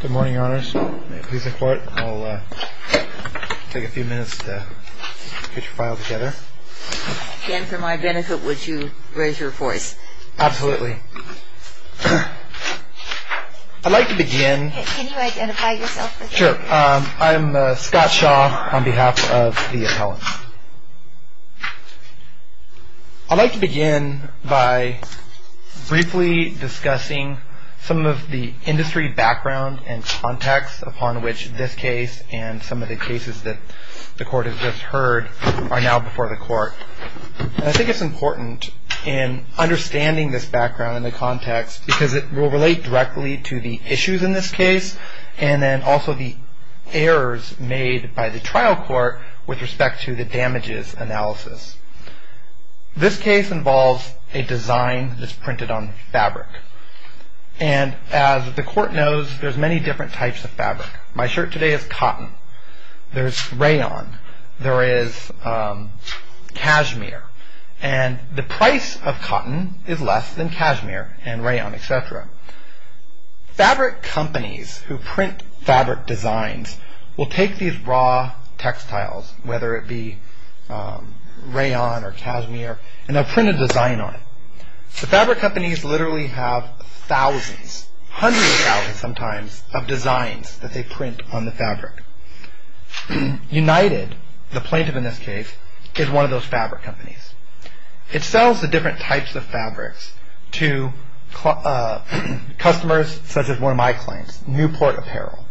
Good morning, Your Honors. May it please the Court, I'll take a few minutes to get your file together. And for my benefit, would you raise your voice? Absolutely. I'd like to begin... Can you identify yourself? Sure. I'm Scott Shaw on behalf of the appellant. I'd like to begin by briefly discussing some of the industry background and context upon which this case and some of the cases that the Court has just heard are now before the Court. And I think it's important in understanding this background and the context because it will relate directly to the issues in this case and then also the errors made by the trial court with respect to the damages analysis. This case involves a design that's printed on fabric. And as the Court knows, there's many different types of fabric. My shirt today is cotton. There's rayon. There is cashmere. And the price of cotton is less than cashmere and rayon, etc. Fabric companies who print fabric designs will take these raw textiles, whether it be rayon or cashmere, and they'll print a design on it. The fabric companies literally have thousands, hundreds of thousands sometimes, of designs that they print on the fabric. United, the plaintiff in this case, is one of those fabric companies. It sells the different types of fabrics to customers such as one of my clients, Newport Apparel.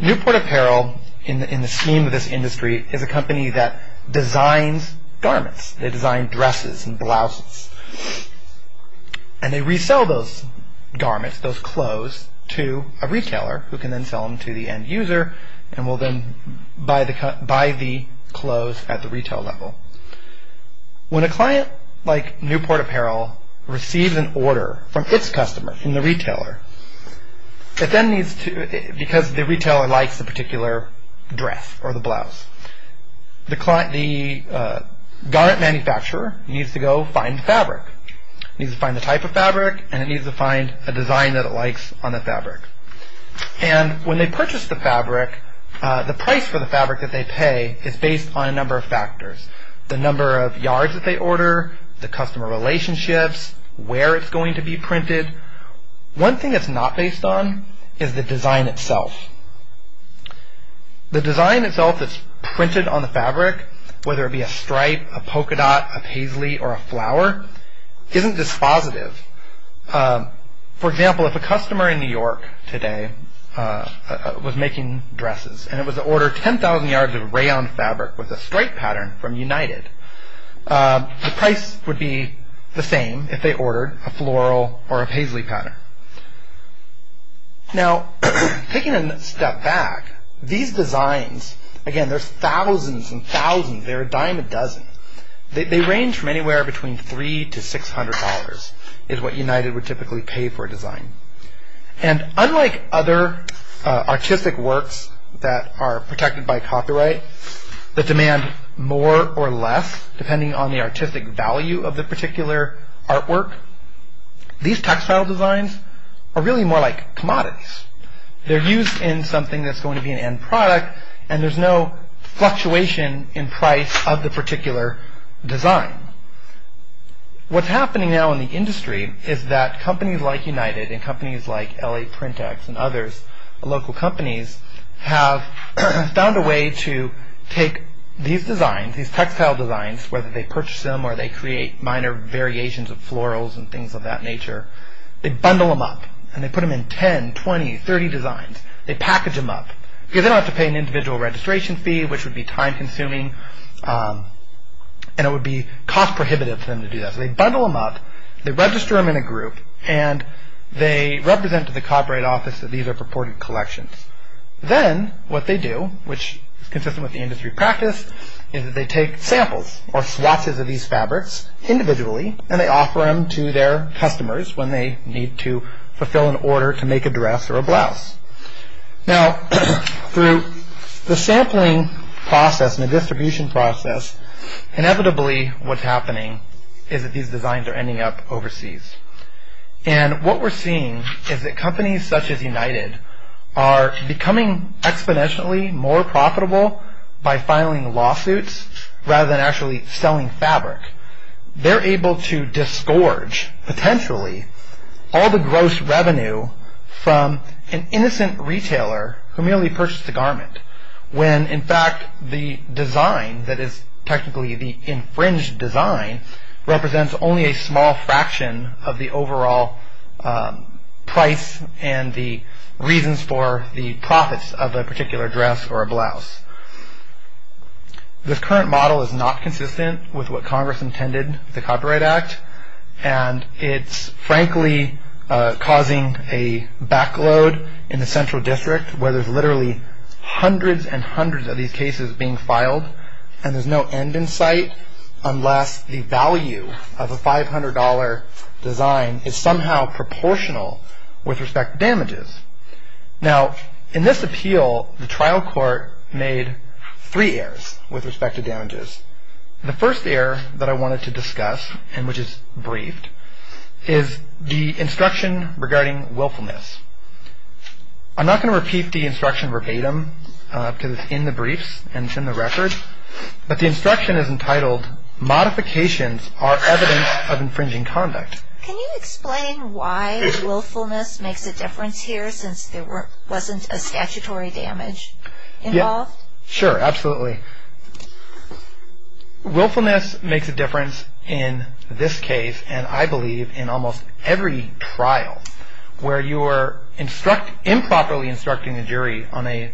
Newport Apparel, in the scheme of this industry, is a company that designs garments. They design dresses and blouses. And they resell those garments, those clothes, to a retailer who can then sell them to the end user and will then buy the clothes at the retail level. When a client like Newport Apparel receives an order from its customer, from the retailer, it then needs to, because the retailer likes the particular dress or the blouse, the garment manufacturer needs to go find the fabric. It needs to find the type of fabric, and it needs to find a design that it likes on the fabric. And when they purchase the fabric, the price for the fabric that they pay is based on a number of factors. The number of yards that they order, the customer relationships, where it's going to be printed. One thing that's not based on is the design itself. The design itself that's printed on the fabric, whether it be a stripe, a polka dot, a paisley, or a flower, isn't dispositive. For example, if a customer in New York today was making dresses, and it was ordered 10,000 yards of rayon fabric with a stripe pattern from United, the price would be the same if they ordered a floral or a paisley pattern. Now, taking a step back, these designs, again, there's thousands and thousands, they're a dime a dozen. They range from anywhere between $300 to $600 is what United would typically pay for a design. And unlike other artistic works that are protected by copyright, that demand more or less depending on the artistic value of the particular artwork, these textile designs are really more like commodities. They're used in something that's going to be an end product, and there's no fluctuation in price of the particular design. What's happening now in the industry is that companies like United, and companies like L.A. Print X, and others, local companies, have found a way to take these designs, these textile designs, whether they purchase them or they create minor variations of florals and things of that nature, they bundle them up, and they put them in 10, 20, 30 designs. They package them up, because they don't have to pay an individual registration fee, which would be time-consuming, and it would be cost-prohibitive for them to do that. So they bundle them up, they register them in a group, and they represent to the copyright office that these are purported collections. Then what they do, which is consistent with the industry practice, is that they take samples or swatches of these fabrics individually, and they offer them to their customers when they need to fulfill an order to make a dress or a blouse. Now, through the sampling process and the distribution process, inevitably what's happening is that these designs are ending up overseas. What we're seeing is that companies such as United are becoming exponentially more profitable by filing lawsuits rather than actually selling fabric. They're able to disgorge, potentially, all the gross revenue from an innocent retailer who merely purchased a garment, when in fact the design that is technically the infringed design represents only a small fraction of the overall price and the reasons for the profits of a particular dress or a blouse. This current model is not consistent with what Congress intended with the Copyright Act, and it's frankly causing a backload in the central district where there's literally hundreds and hundreds of these cases being filed, and there's no end in sight unless the value of a $500 design is somehow proportional with respect to damages. Now, in this appeal, the trial court made three errors with respect to damages. The first error that I wanted to discuss and which is briefed is the instruction regarding willfulness. I'm not going to repeat the instruction verbatim because it's in the briefs and it's in the record, but the instruction is entitled, Modifications are evidence of infringing conduct. Can you explain why willfulness makes a difference here since there wasn't a statutory damage involved? Sure, absolutely. Willfulness makes a difference in this case and, I believe, in almost every trial where you are improperly instructing the jury on a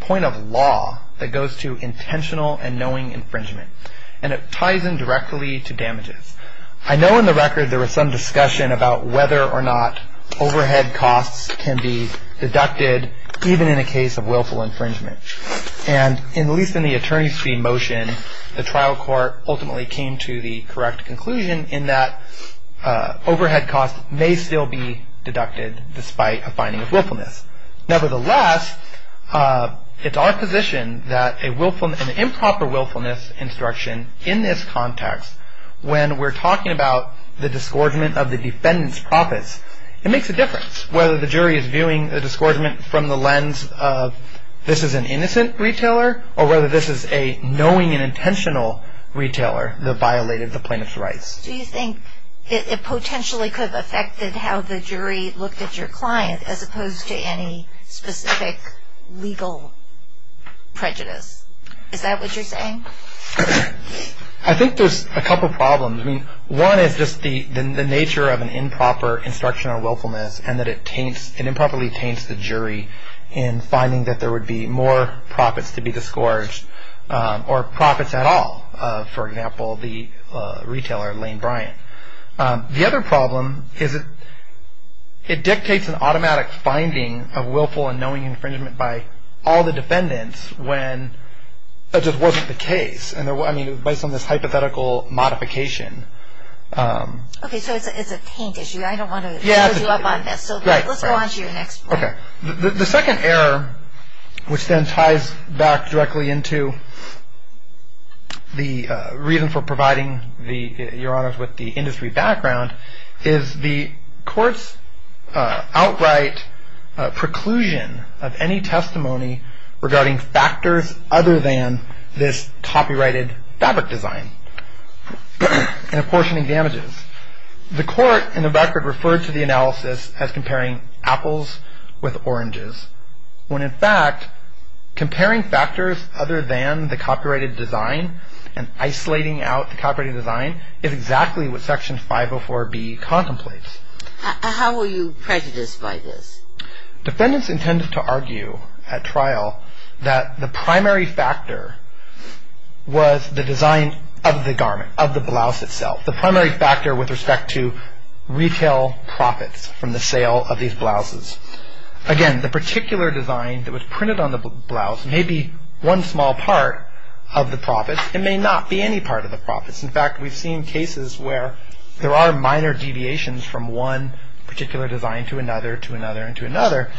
point of law that goes to intentional and knowing infringement. And it ties in directly to damages. I know in the record there was some discussion about whether or not overhead costs can be deducted even in a case of willful infringement. And at least in the attorney's fee motion, the trial court ultimately came to the correct conclusion in that overhead costs may still be deducted despite a finding of willfulness. Nevertheless, it's our position that an improper willfulness instruction in this context when we're talking about the disgorgement of the defendant's profits, it makes a difference. Whether the jury is viewing the disgorgement from the lens of this is an innocent retailer or whether this is a knowing and intentional retailer that violated the plaintiff's rights. Do you think it potentially could have affected how the jury looked at your client as opposed to any specific legal prejudice? Is that what you're saying? I think there's a couple problems. One is just the nature of an improper instruction on willfulness and that it improperly taints the jury in finding that there would be more profits to be disgorged or profits at all, for example, the retailer Lane Bryant. The other problem is it dictates an automatic finding of willful and knowing infringement by all the defendants when that just wasn't the case. I mean, based on this hypothetical modification. Okay, so it's a taint issue. I don't want to hold you up on this. So let's go on to your next point. Okay. The second error, which then ties back directly into the reason for providing, Your Honors, with the industry background, is the court's outright preclusion of any testimony regarding factors other than this copyrighted fabric design and apportioning damages. The court, in the record, referred to the analysis as comparing apples with oranges when, in fact, comparing factors other than the copyrighted design and isolating out the copyrighted design is exactly what Section 504B contemplates. How were you prejudiced by this? Defendants intended to argue at trial that the primary factor was the design of the garment, of the blouse itself. The primary factor with respect to retail profits from the sale of these blouses. Again, the particular design that was printed on the blouse may be one small part of the profits. It may not be any part of the profits. In fact, we've seen cases where there are minor deviations from one particular design to another, to another, and to another.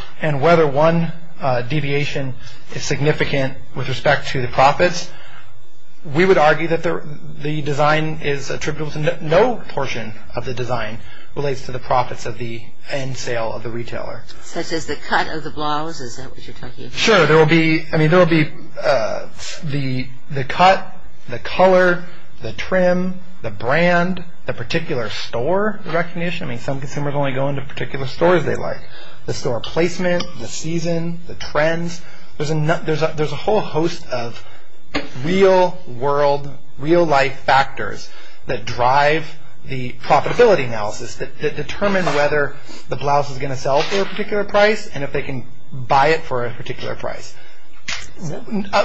We would argue that the design is attributable to no portion of the design relates to the profits of the end sale of the retailer. Such as the cut of the blouse? Is that what you're talking about? Sure. There will be the cut, the color, the trim, the brand, the particular store recognition. I mean, some consumers only go into particular stores they like. The store placement, the season, the trends. There's a whole host of real-world, real-life factors that drive the profitability analysis that determine whether the blouse is going to sell for a particular price and if they can buy it for a particular price.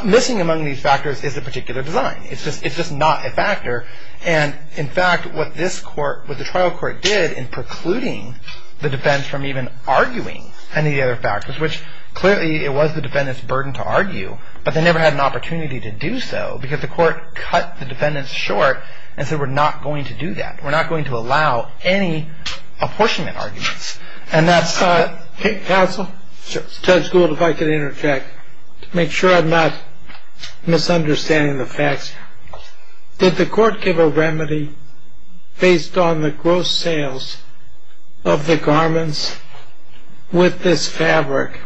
Missing among these factors is the particular design. It's just not a factor. In fact, what the trial court did in precluding the defense from even arguing any of the other factors, which clearly it was the defendant's burden to argue, but they never had an opportunity to do so because the court cut the defendant short and said we're not going to do that. We're not going to allow any apportionment arguments. Counsel? Judge Gould, if I could interject to make sure I'm not misunderstanding the facts. Did the court give a remedy based on the gross sales of the garments with this fabric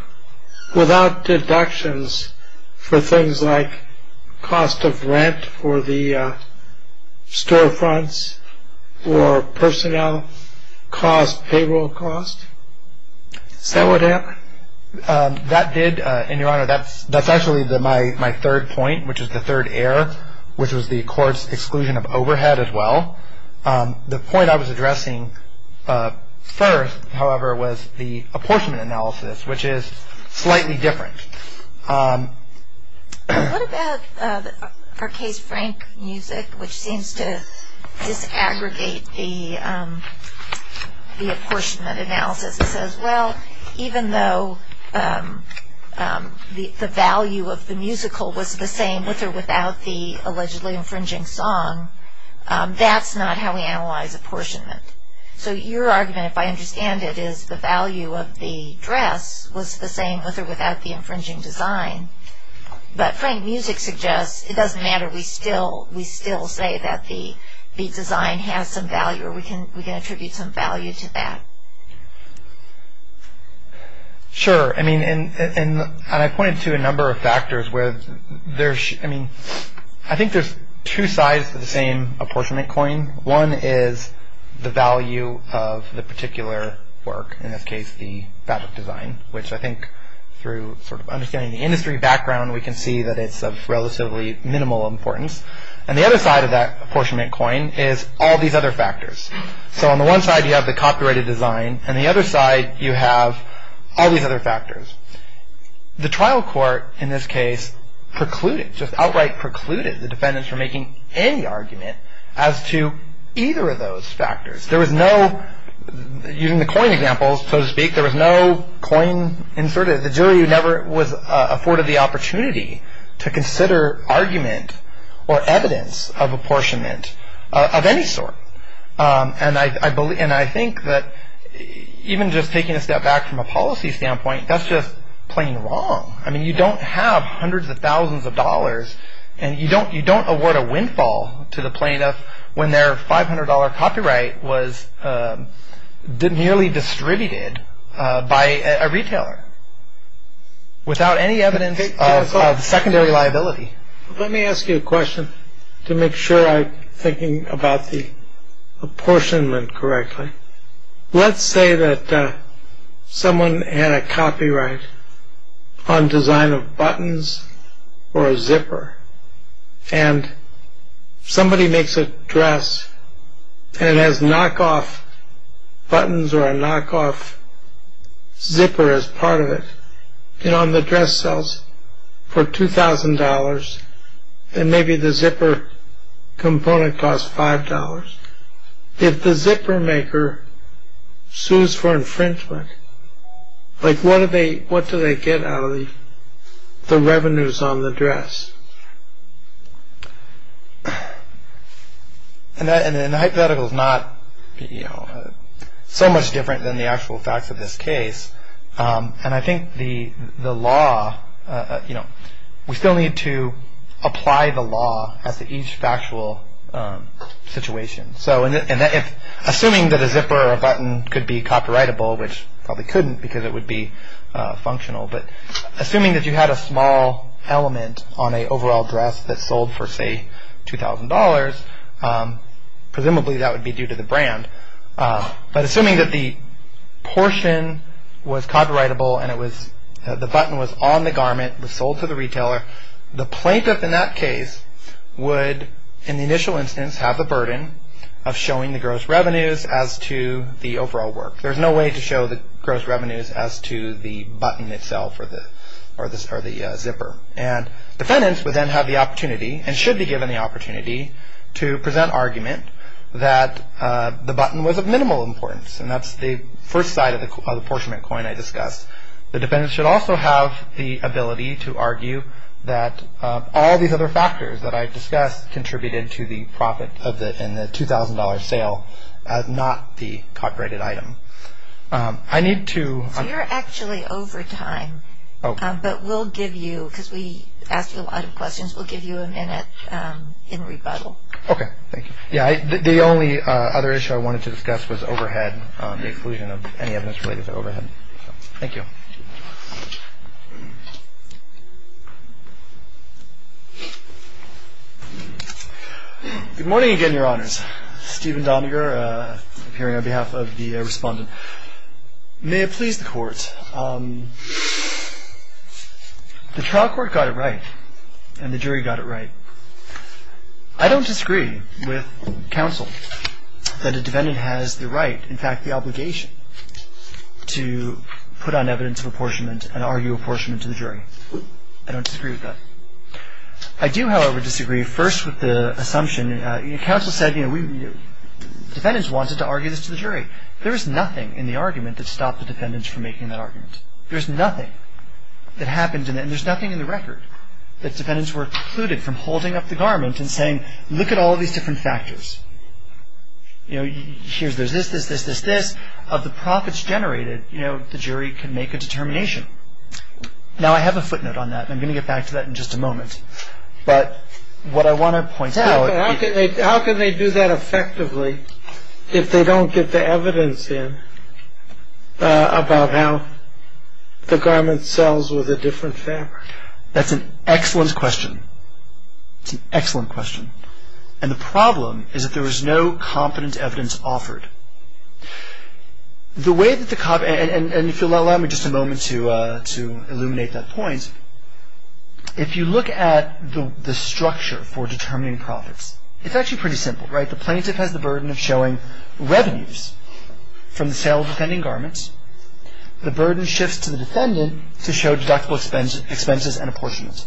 without deductions for things like cost of rent for the storefronts or personnel cost, payroll cost? Is that what happened? That did, and, Your Honor, that's actually my third point, which is the third error, which was the court's exclusion of overhead as well. The point I was addressing first, however, was the apportionment analysis, which is slightly different. What about Arkay's Frank music, which seems to disaggregate the apportionment analysis? It says, well, even though the value of the musical was the same with or without the allegedly infringing song, that's not how we analyze apportionment. So your argument, if I understand it, is the value of the dress was the same with or without the infringing design, but Frank music suggests it doesn't matter. We still say that the design has some value, or we can attribute some value to that. Sure, and I pointed to a number of factors. I think there's two sides to the same apportionment coin. One is the value of the particular work, in this case the fabric design, which I think through sort of understanding the industry background, we can see that it's of relatively minimal importance. And the other side of that apportionment coin is all these other factors. So on the one side you have the copyrighted design, and the other side you have all these other factors. The trial court in this case precluded, just outright precluded, the defendants from making any argument as to either of those factors. There was no, using the coin examples, so to speak, there was no coin inserted. The jury never was afforded the opportunity to consider argument or evidence of apportionment of any sort. And I think that even just taking a step back from a policy standpoint, that's just plain wrong. I mean you don't have hundreds of thousands of dollars, and you don't award a windfall to the plaintiff when their $500 copyright was nearly distributed by a retailer, without any evidence of secondary liability. Let me ask you a question to make sure I'm thinking about the apportionment correctly. Let's say that someone had a copyright on design of buttons or a zipper, and somebody makes a dress and it has knockoff buttons or a knockoff zipper as part of it, and on the dress sells for $2,000, and maybe the zipper component costs $5. If the zipper maker sues for infringement, what do they get out of the revenues on the dress? And the hypothetical is not so much different than the actual facts of this case. And I think the law, you know, we still need to apply the law as to each factual situation. So assuming that a zipper or a button could be copyrightable, which probably couldn't because it would be functional, but assuming that you had a small element on an overall dress that sold for say $2,000, presumably that would be due to the brand. But assuming that the portion was copyrightable and the button was on the garment, was sold to the retailer, the plaintiff in that case would, in the initial instance, have the burden of showing the gross revenues as to the overall work. There's no way to show the gross revenues as to the button itself or the zipper. And defendants would then have the opportunity and should be given the opportunity to present argument that the button was of minimal importance and that's the first side of the apportionment coin I discussed. The defendants should also have the ability to argue that all these other factors that I discussed contributed to the profit in the $2,000 sale, not the copyrighted item. I need to... So you're actually over time. Okay. But we'll give you, because we asked you a lot of questions, we'll give you a minute in rebuttal. Okay. Thank you. Yeah, the only other issue I wanted to discuss was overhead, the exclusion of any evidence related to overhead. Thank you. Good morning again, Your Honors. Steven Doniger, appearing on behalf of the Respondent. May it please the Court. The trial court got it right and the jury got it right. I don't disagree with counsel that a defendant has the right, in fact the obligation, to put on evidence of apportionment and argue apportionment to the jury. I don't disagree with that. I do, however, disagree first with the assumption, counsel said defendants wanted to argue this to the jury. There is nothing in the argument that stopped the defendants from making that argument. There's nothing that happened, and there's nothing in the record, that defendants were excluded from holding up the garment and saying, look at all these different factors. You know, here's this, this, this, this, this. Of the profits generated, you know, the jury can make a determination. Now I have a footnote on that, and I'm going to get back to that in just a moment. But what I want to point out... There's no evidence in about how the garment sells with a different fabric. That's an excellent question. It's an excellent question. And the problem is that there is no competent evidence offered. The way that the cop, and if you'll allow me just a moment to illuminate that point, if you look at the structure for determining profits, it's actually pretty simple, right? The plaintiff has the burden of showing revenues from the sale of the defending garment. The burden shifts to the defendant to show deductible expenses and apportionment.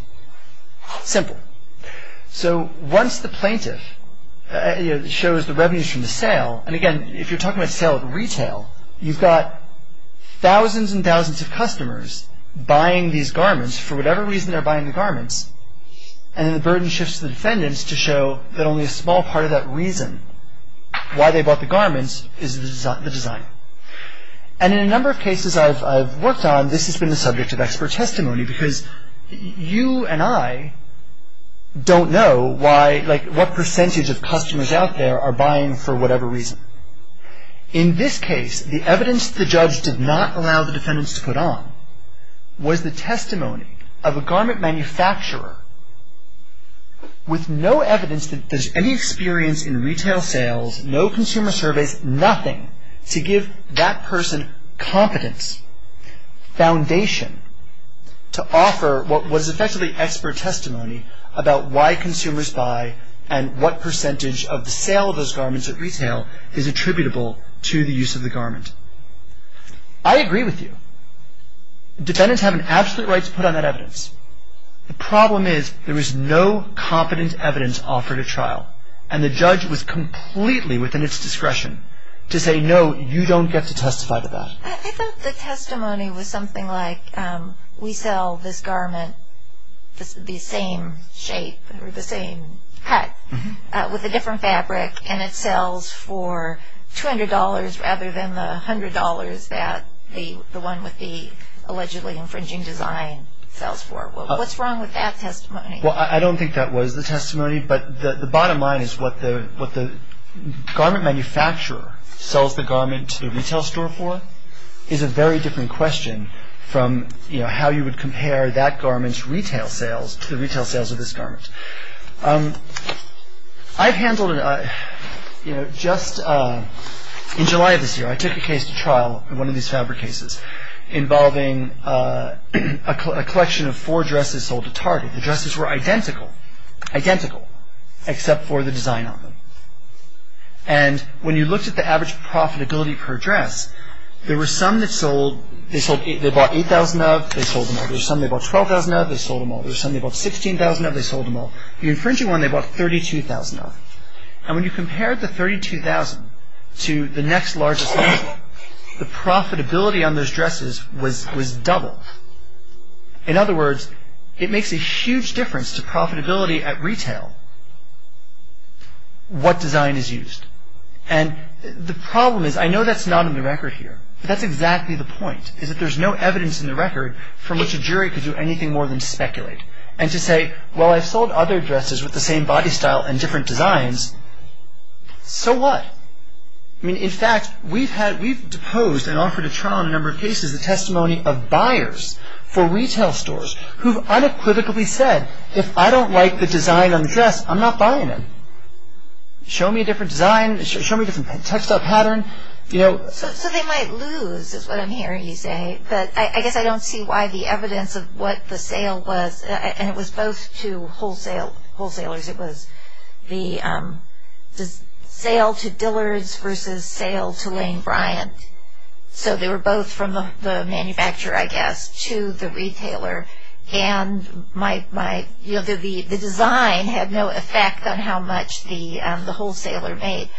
Simple. So once the plaintiff shows the revenues from the sale, and again, if you're talking about sale at retail, you've got thousands and thousands of customers buying these garments for whatever reason they're buying the garments, and then the burden shifts to the defendants to show that only a small part of that reason why they bought the garments is the design. And in a number of cases I've worked on, this has been the subject of expert testimony because you and I don't know what percentage of customers out there are buying for whatever reason. In this case, the evidence the judge did not allow the defendants to put on was the testimony of a garment manufacturer with no evidence that there's any experience in retail sales, no consumer surveys, nothing, to give that person competence, foundation, to offer what was effectively expert testimony about why consumers buy and what percentage of the sale of those garments at retail is attributable to the use of the garment. I agree with you. Defendants have an absolute right to put on that evidence. The problem is there is no competent evidence offered at trial, and the judge was completely within its discretion to say, no, you don't get to testify to that. I thought the testimony was something like we sell this garment, the same shape or the same cut with a different fabric, and it sells for $200 rather than the $100 that the one with the allegedly infringing design sells for. What's wrong with that testimony? I don't think that was the testimony, but the bottom line is what the garment manufacturer sells the garment to the retail store for is a very different question from how you would compare that garment's retail sales to the retail sales of this garment. I've handled it. Just in July of this year, I took a case to trial in one of these fabric cases involving a collection of four dresses sold to Target. The dresses were identical, identical, except for the design on them. And when you looked at the average profitability per dress, there were some that sold, they bought 8,000 of, they sold them all. There were some that bought 12,000 of, they sold them all. There were some that bought 16,000 of, they sold them all. The infringing one, they bought 32,000 of. And when you compared the 32,000 to the next largest one, the profitability on those dresses was doubled. In other words, it makes a huge difference to profitability at retail what design is used. And the problem is, I know that's not on the record here, but that's exactly the point is that there's no evidence in the record from which a jury could do anything more than speculate. And to say, well, I've sold other dresses with the same body style and different designs, so what? I mean, in fact, we've had, we've deposed and offered a trial in a number of cases the testimony of buyers for retail stores who've unequivocally said, if I don't like the design on the dress, I'm not buying it. Show me a different design, show me a different textile pattern, you know. So they might lose is what I'm hearing you say. But I guess I don't see why the evidence of what the sale was, and it was both to wholesalers. It was the sale to Dillard's versus sale to Lane Bryant. So they were both from the manufacturer, I guess, to the retailer. And my, you know, the design had no effect on how much the wholesaler made.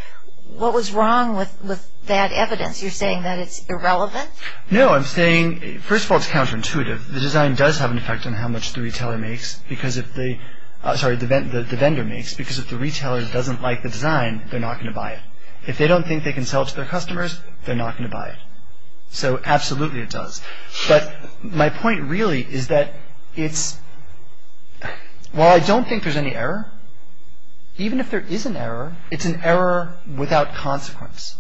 What was wrong with that evidence? You're saying that it's irrelevant? No, I'm saying, first of all, it's counterintuitive. The design does have an effect on how much the retailer makes, because if they, sorry, the vendor makes, because if the retailer doesn't like the design, they're not going to buy it. If they don't think they can sell it to their customers, they're not going to buy it. So absolutely it does. But my point really is that it's, while I don't think there's any error, even if there is an error, it's an error without consequence.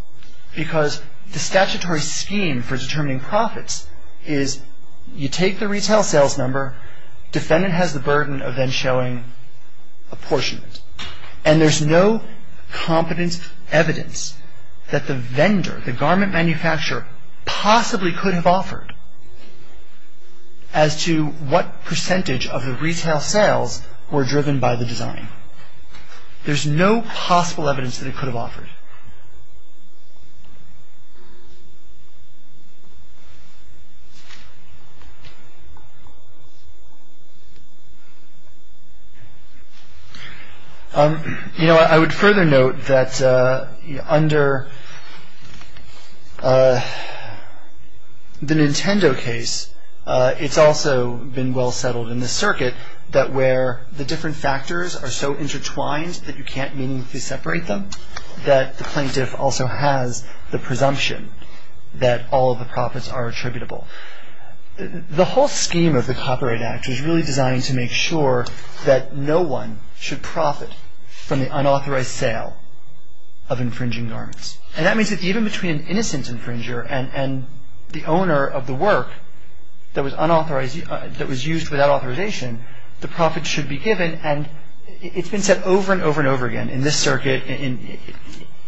Because the statutory scheme for determining profits is you take the retail sales number, defendant has the burden of then showing apportionment. And there's no competent evidence that the vendor, the garment manufacturer, possibly could have offered as to what percentage of the retail sales were driven by the design. There's no possible evidence that it could have offered. You know, I would further note that under the Nintendo case, it's also been well settled in the circuit that where the different factors are so intertwined that you can't meaningfully separate them, that the plaintiff also has the presumption that all of the profits are attributable. The whole scheme of the Copyright Act is really designed to make sure that no one should profit from the unauthorized sale of infringing garments. And that means that even between an innocent infringer and the owner of the work that was used without authorization, the profits should be given. And it's been said over and over and over again in this circuit,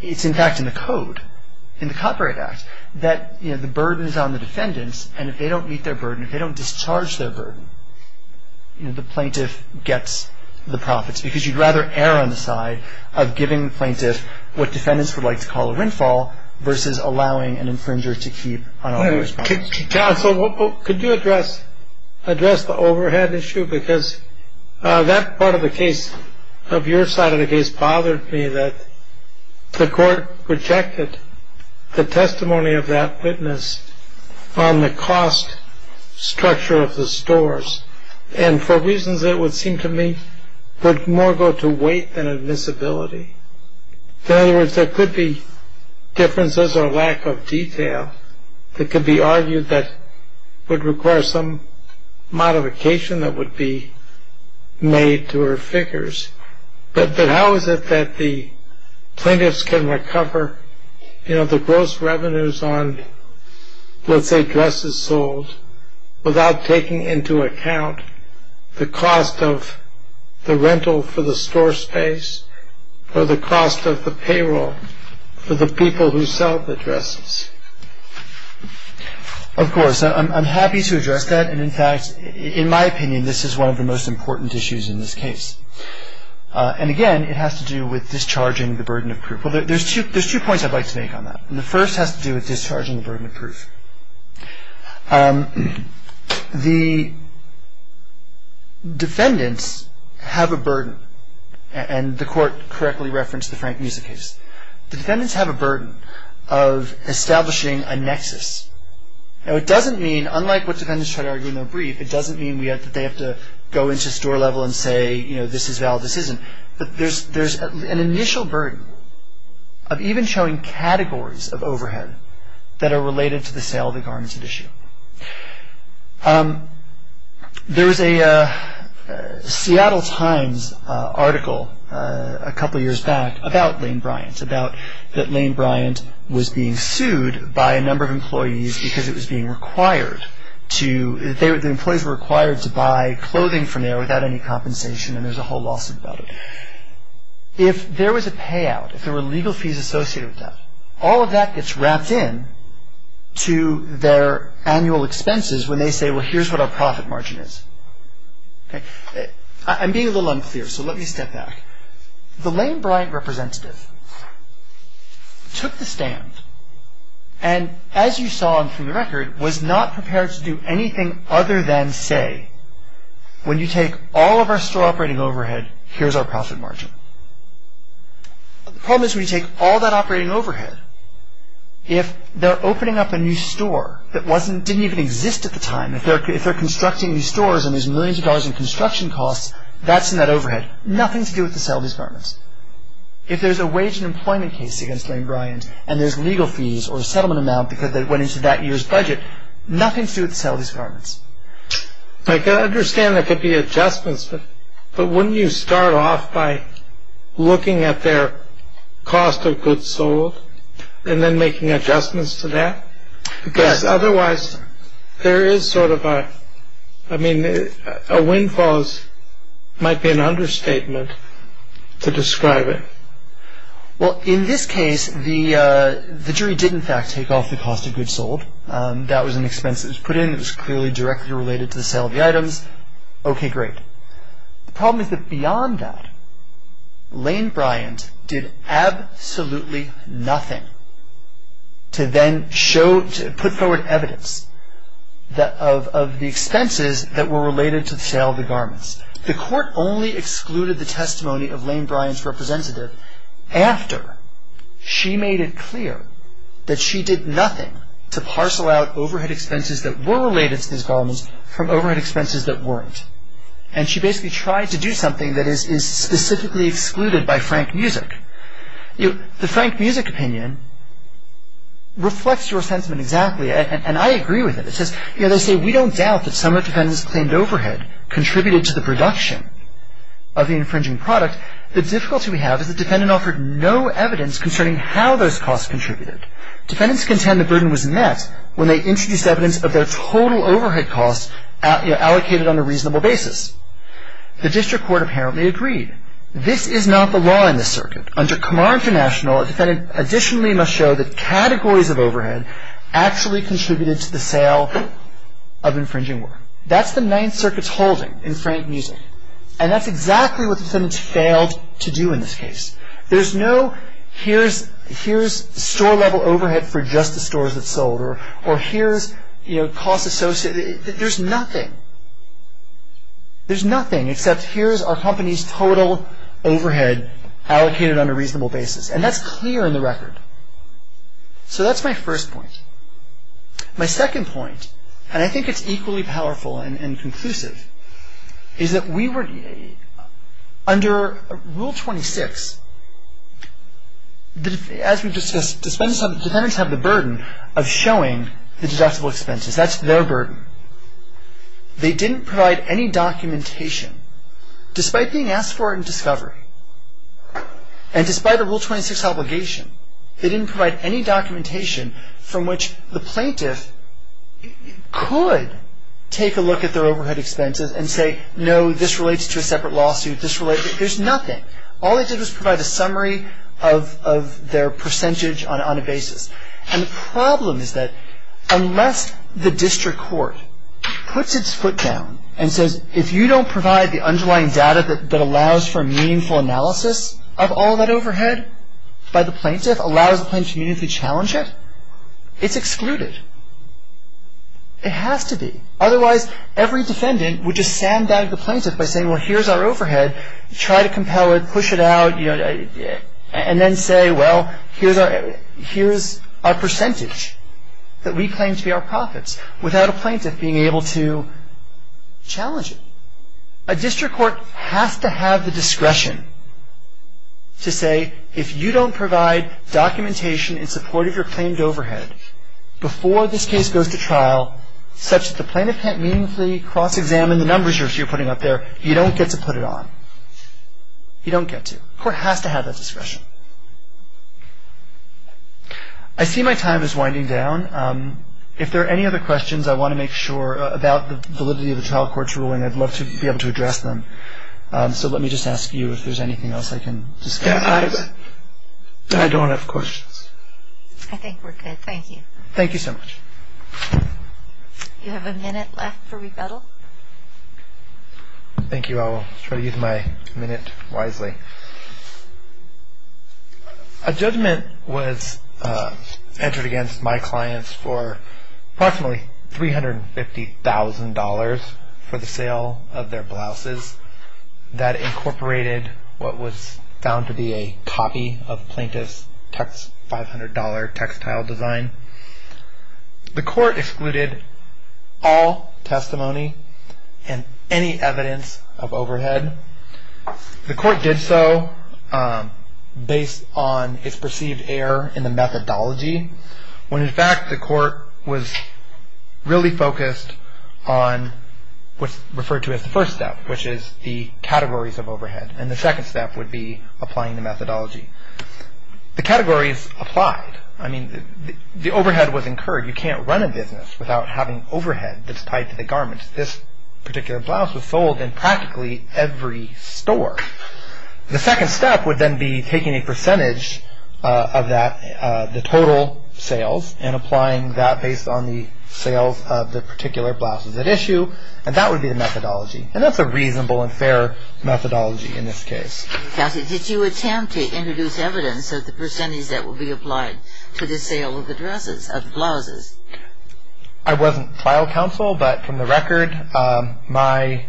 it's in fact in the Code, in the Copyright Act, that the burden is on the defendants, and if they don't meet their burden, if they don't discharge their burden, the plaintiff gets the profits. Because you'd rather err on the side of giving the plaintiff what defendants would like to call a windfall versus allowing an infringer to keep unauthorized products. So could you address the overhead issue? Because that part of the case, of your side of the case, bothered me that the court rejected the testimony of that witness on the cost structure of the stores. And for reasons that would seem to me would more go to weight than admissibility. In other words, there could be differences or lack of detail that could be argued that would require some modification that would be made to her figures. But how is it that the plaintiffs can recover the gross revenues on, let's say, dresses sold without taking into account the cost of the rental for the store space or the cost of the payroll for the people who sell the dresses? Of course, I'm happy to address that. And in fact, in my opinion, this is one of the most important issues in this case. And again, it has to do with discharging the burden of proof. There's two points I'd like to make on that. And the first has to do with discharging the burden of proof. The defendants have a burden, and the court correctly referenced the Frank Musa case. The defendants have a burden of establishing a nexus. Now, it doesn't mean, unlike what defendants try to argue in their brief, it doesn't mean that they have to go into store level and say, you know, this is valid, this isn't. But there's an initial burden of even showing categories of overhead that are related to the sale of a garmented issue. There was a Seattle Times article a couple years back about Lane Bryant, about that Lane Bryant was being sued by a number of employees because it was being required to, the employees were required to buy clothing from there without any compensation, and there's a whole lawsuit about it. If there was a payout, if there were legal fees associated with that, all of that gets wrapped in to their annual expenses when they say, well, here's what our profit margin is. I'm being a little unclear, so let me step back. The Lane Bryant representative took the stand, and as you saw from the record, was not prepared to do anything other than say, when you take all of our store operating overhead, here's our profit margin. The problem is when you take all that operating overhead, if they're opening up a new store that didn't even exist at the time, if they're constructing new stores and there's millions of dollars in construction costs, that's in that overhead, nothing to do with the sale of his garments. If there's a wage and employment case against Lane Bryant, and there's legal fees or settlement amount because they went into that year's budget, nothing to do with the sale of his garments. I understand there could be adjustments, but wouldn't you start off by looking at their cost of goods sold, and then making adjustments to that? Because otherwise, there is sort of a, I mean, a windfall might be an understatement to describe it. Well, in this case, the jury did in fact take off the cost of goods sold. That was an expense that was put in. It was clearly directly related to the sale of the items. Okay, great. The problem is that beyond that, Lane Bryant did absolutely nothing to then put forward evidence of the expenses that were related to the sale of the garments. The court only excluded the testimony of Lane Bryant's representative after she made it clear that she did nothing to parcel out overhead expenses that were related to his garments from overhead expenses that weren't. And she basically tried to do something that is specifically excluded by Frank Music. The Frank Music opinion reflects your sentiment exactly, and I agree with it. It says, you know, they say we don't doubt that some of the defendants claimed overhead contributed to the production of the infringing product. The difficulty we have is the defendant offered no evidence concerning how those costs contributed. Defendants contend the burden was met when they introduced evidence of their total overhead costs allocated on a reasonable basis. The district court apparently agreed. This is not the law in this circuit. Under Kamar International, a defendant additionally must show that categories of overhead actually contributed to the sale of infringing work. That's the Ninth Circuit's holding in Frank Music, and that's exactly what the defendants failed to do in this case. There's no, here's store-level overhead for just the stores that sold, or here's, you know, cost associated, there's nothing. There's nothing except here's our company's total overhead allocated on a reasonable basis, and that's clear in the record. So that's my first point. My second point, and I think it's equally powerful and conclusive, is that we were, under Rule 26, as we've discussed, defendants have the burden of showing the deductible expenses. That's their burden. They didn't provide any documentation, despite being asked for it in discovery, and despite a Rule 26 obligation, they didn't provide any documentation from which the plaintiff could take a look at their overhead expenses and say, no, this relates to a separate lawsuit, this relates, there's nothing. All they did was provide a summary of their percentage on a basis. And the problem is that unless the district court puts its foot down and says, if you don't provide the underlying data that allows for meaningful analysis of all that overhead by the plaintiff, allows the plaintiff to challenge it, it's excluded. It has to be. Otherwise, every defendant would just sandbag the plaintiff by saying, well, here's our overhead, try to compel it, push it out, and then say, well, here's our percentage that we claim to be our profits, without a plaintiff being able to challenge it. A district court has to have the discretion to say, if you don't provide documentation in support of your claimed overhead before this case goes to trial, such that the plaintiff can't meaningfully cross-examine the numbers you're putting up there, you don't get to put it on. You don't get to. The court has to have that discretion. I see my time is winding down. If there are any other questions I want to make sure about the validity of the trial court's ruling, I'd love to be able to address them. So let me just ask you if there's anything else I can discuss. I don't have questions. I think we're good. Thank you. Thank you so much. You have a minute left for rebuttal. Thank you. I will try to use my minute wisely. A judgment was entered against my clients for approximately $350,000 for the sale of their blouses. That incorporated what was found to be a copy of the plaintiff's $500 textile design. The court excluded all testimony and any evidence of overhead. The court did so based on its perceived error in the methodology, when, in fact, the court was really focused on what's referred to as the first step, which is the categories of overhead. And the second step would be applying the methodology. The categories applied. I mean, the overhead was incurred. You can't run a business without having overhead that's tied to the garments. This particular blouse was sold in practically every store. The second step would then be taking a percentage of the total sales and applying that based on the sales of the particular blouses at issue, and that would be the methodology. And that's a reasonable and fair methodology in this case. Counsel, did you attempt to introduce evidence of the percentage that would be applied to the sale of the dresses, of the blouses? I wasn't file counsel, but from the record, my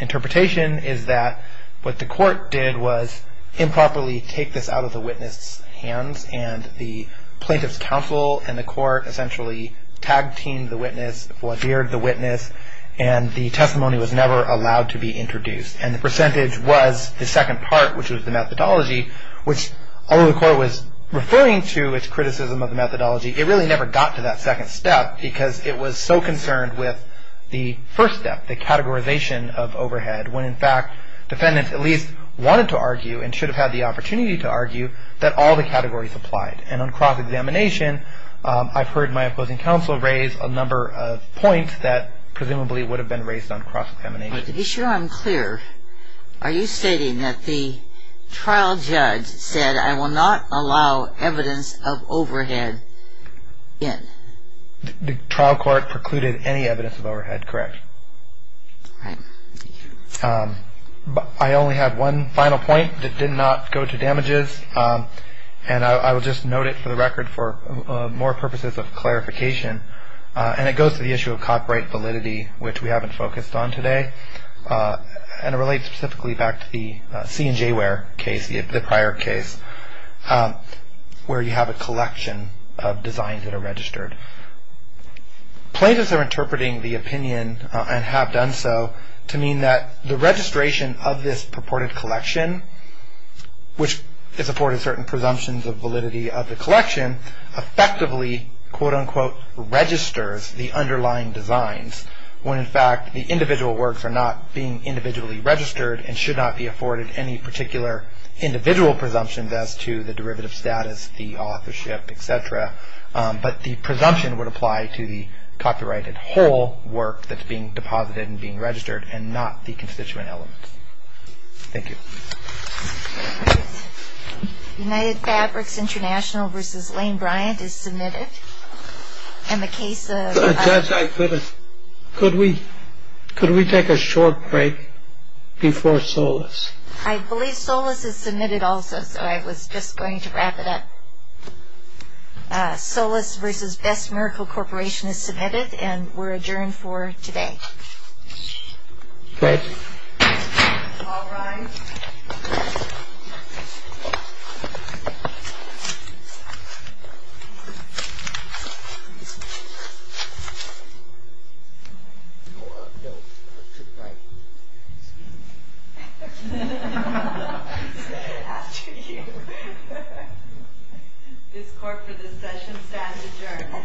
interpretation is that what the court did was improperly take this out of the witness' hands, and the plaintiff's counsel and the court essentially tag-teamed the witness, voir dired the witness, and the testimony was never allowed to be introduced. And the percentage was the second part, which was the methodology, which although the court was referring to its criticism of the methodology, it really never got to that second step because it was so concerned with the first step, the categorization of overhead, when in fact defendants at least wanted to argue and should have had the opportunity to argue that all the categories applied. And on cross-examination, I've heard my opposing counsel raise a number of points that presumably would have been raised on cross-examination. To be sure I'm clear, are you stating that the trial judge said, I will not allow evidence of overhead in? The trial court precluded any evidence of overhead, correct. All right. I only have one final point that did not go to damages, and I will just note it for the record for more purposes of clarification, and it goes to the issue of copyright validity, which we haven't focused on today, and it relates specifically back to the C&J case, the prior case, where you have a collection of designs that are registered. Plaintiffs are interpreting the opinion and have done so to mean that the registration of this purported collection, which is afforded certain presumptions of validity of the collection, effectively, quote-unquote, registers the underlying designs, when in fact the individual works are not being individually registered and should not be afforded any particular individual presumptions as to the derivative status, the authorship, et cetera. But the presumption would apply to the copyrighted whole work that's being deposited and being registered and not the constituent element. Thank you. United Fabrics International v. Lane Bryant is submitted. Judge, could we take a short break before SOLAS? I believe SOLAS is submitted also, so I was just going to wrap it up. SOLAS v. Best Miracle Corporation is submitted, and we're adjourned for today. Thank you. All rise. This court for this session stands adjourned.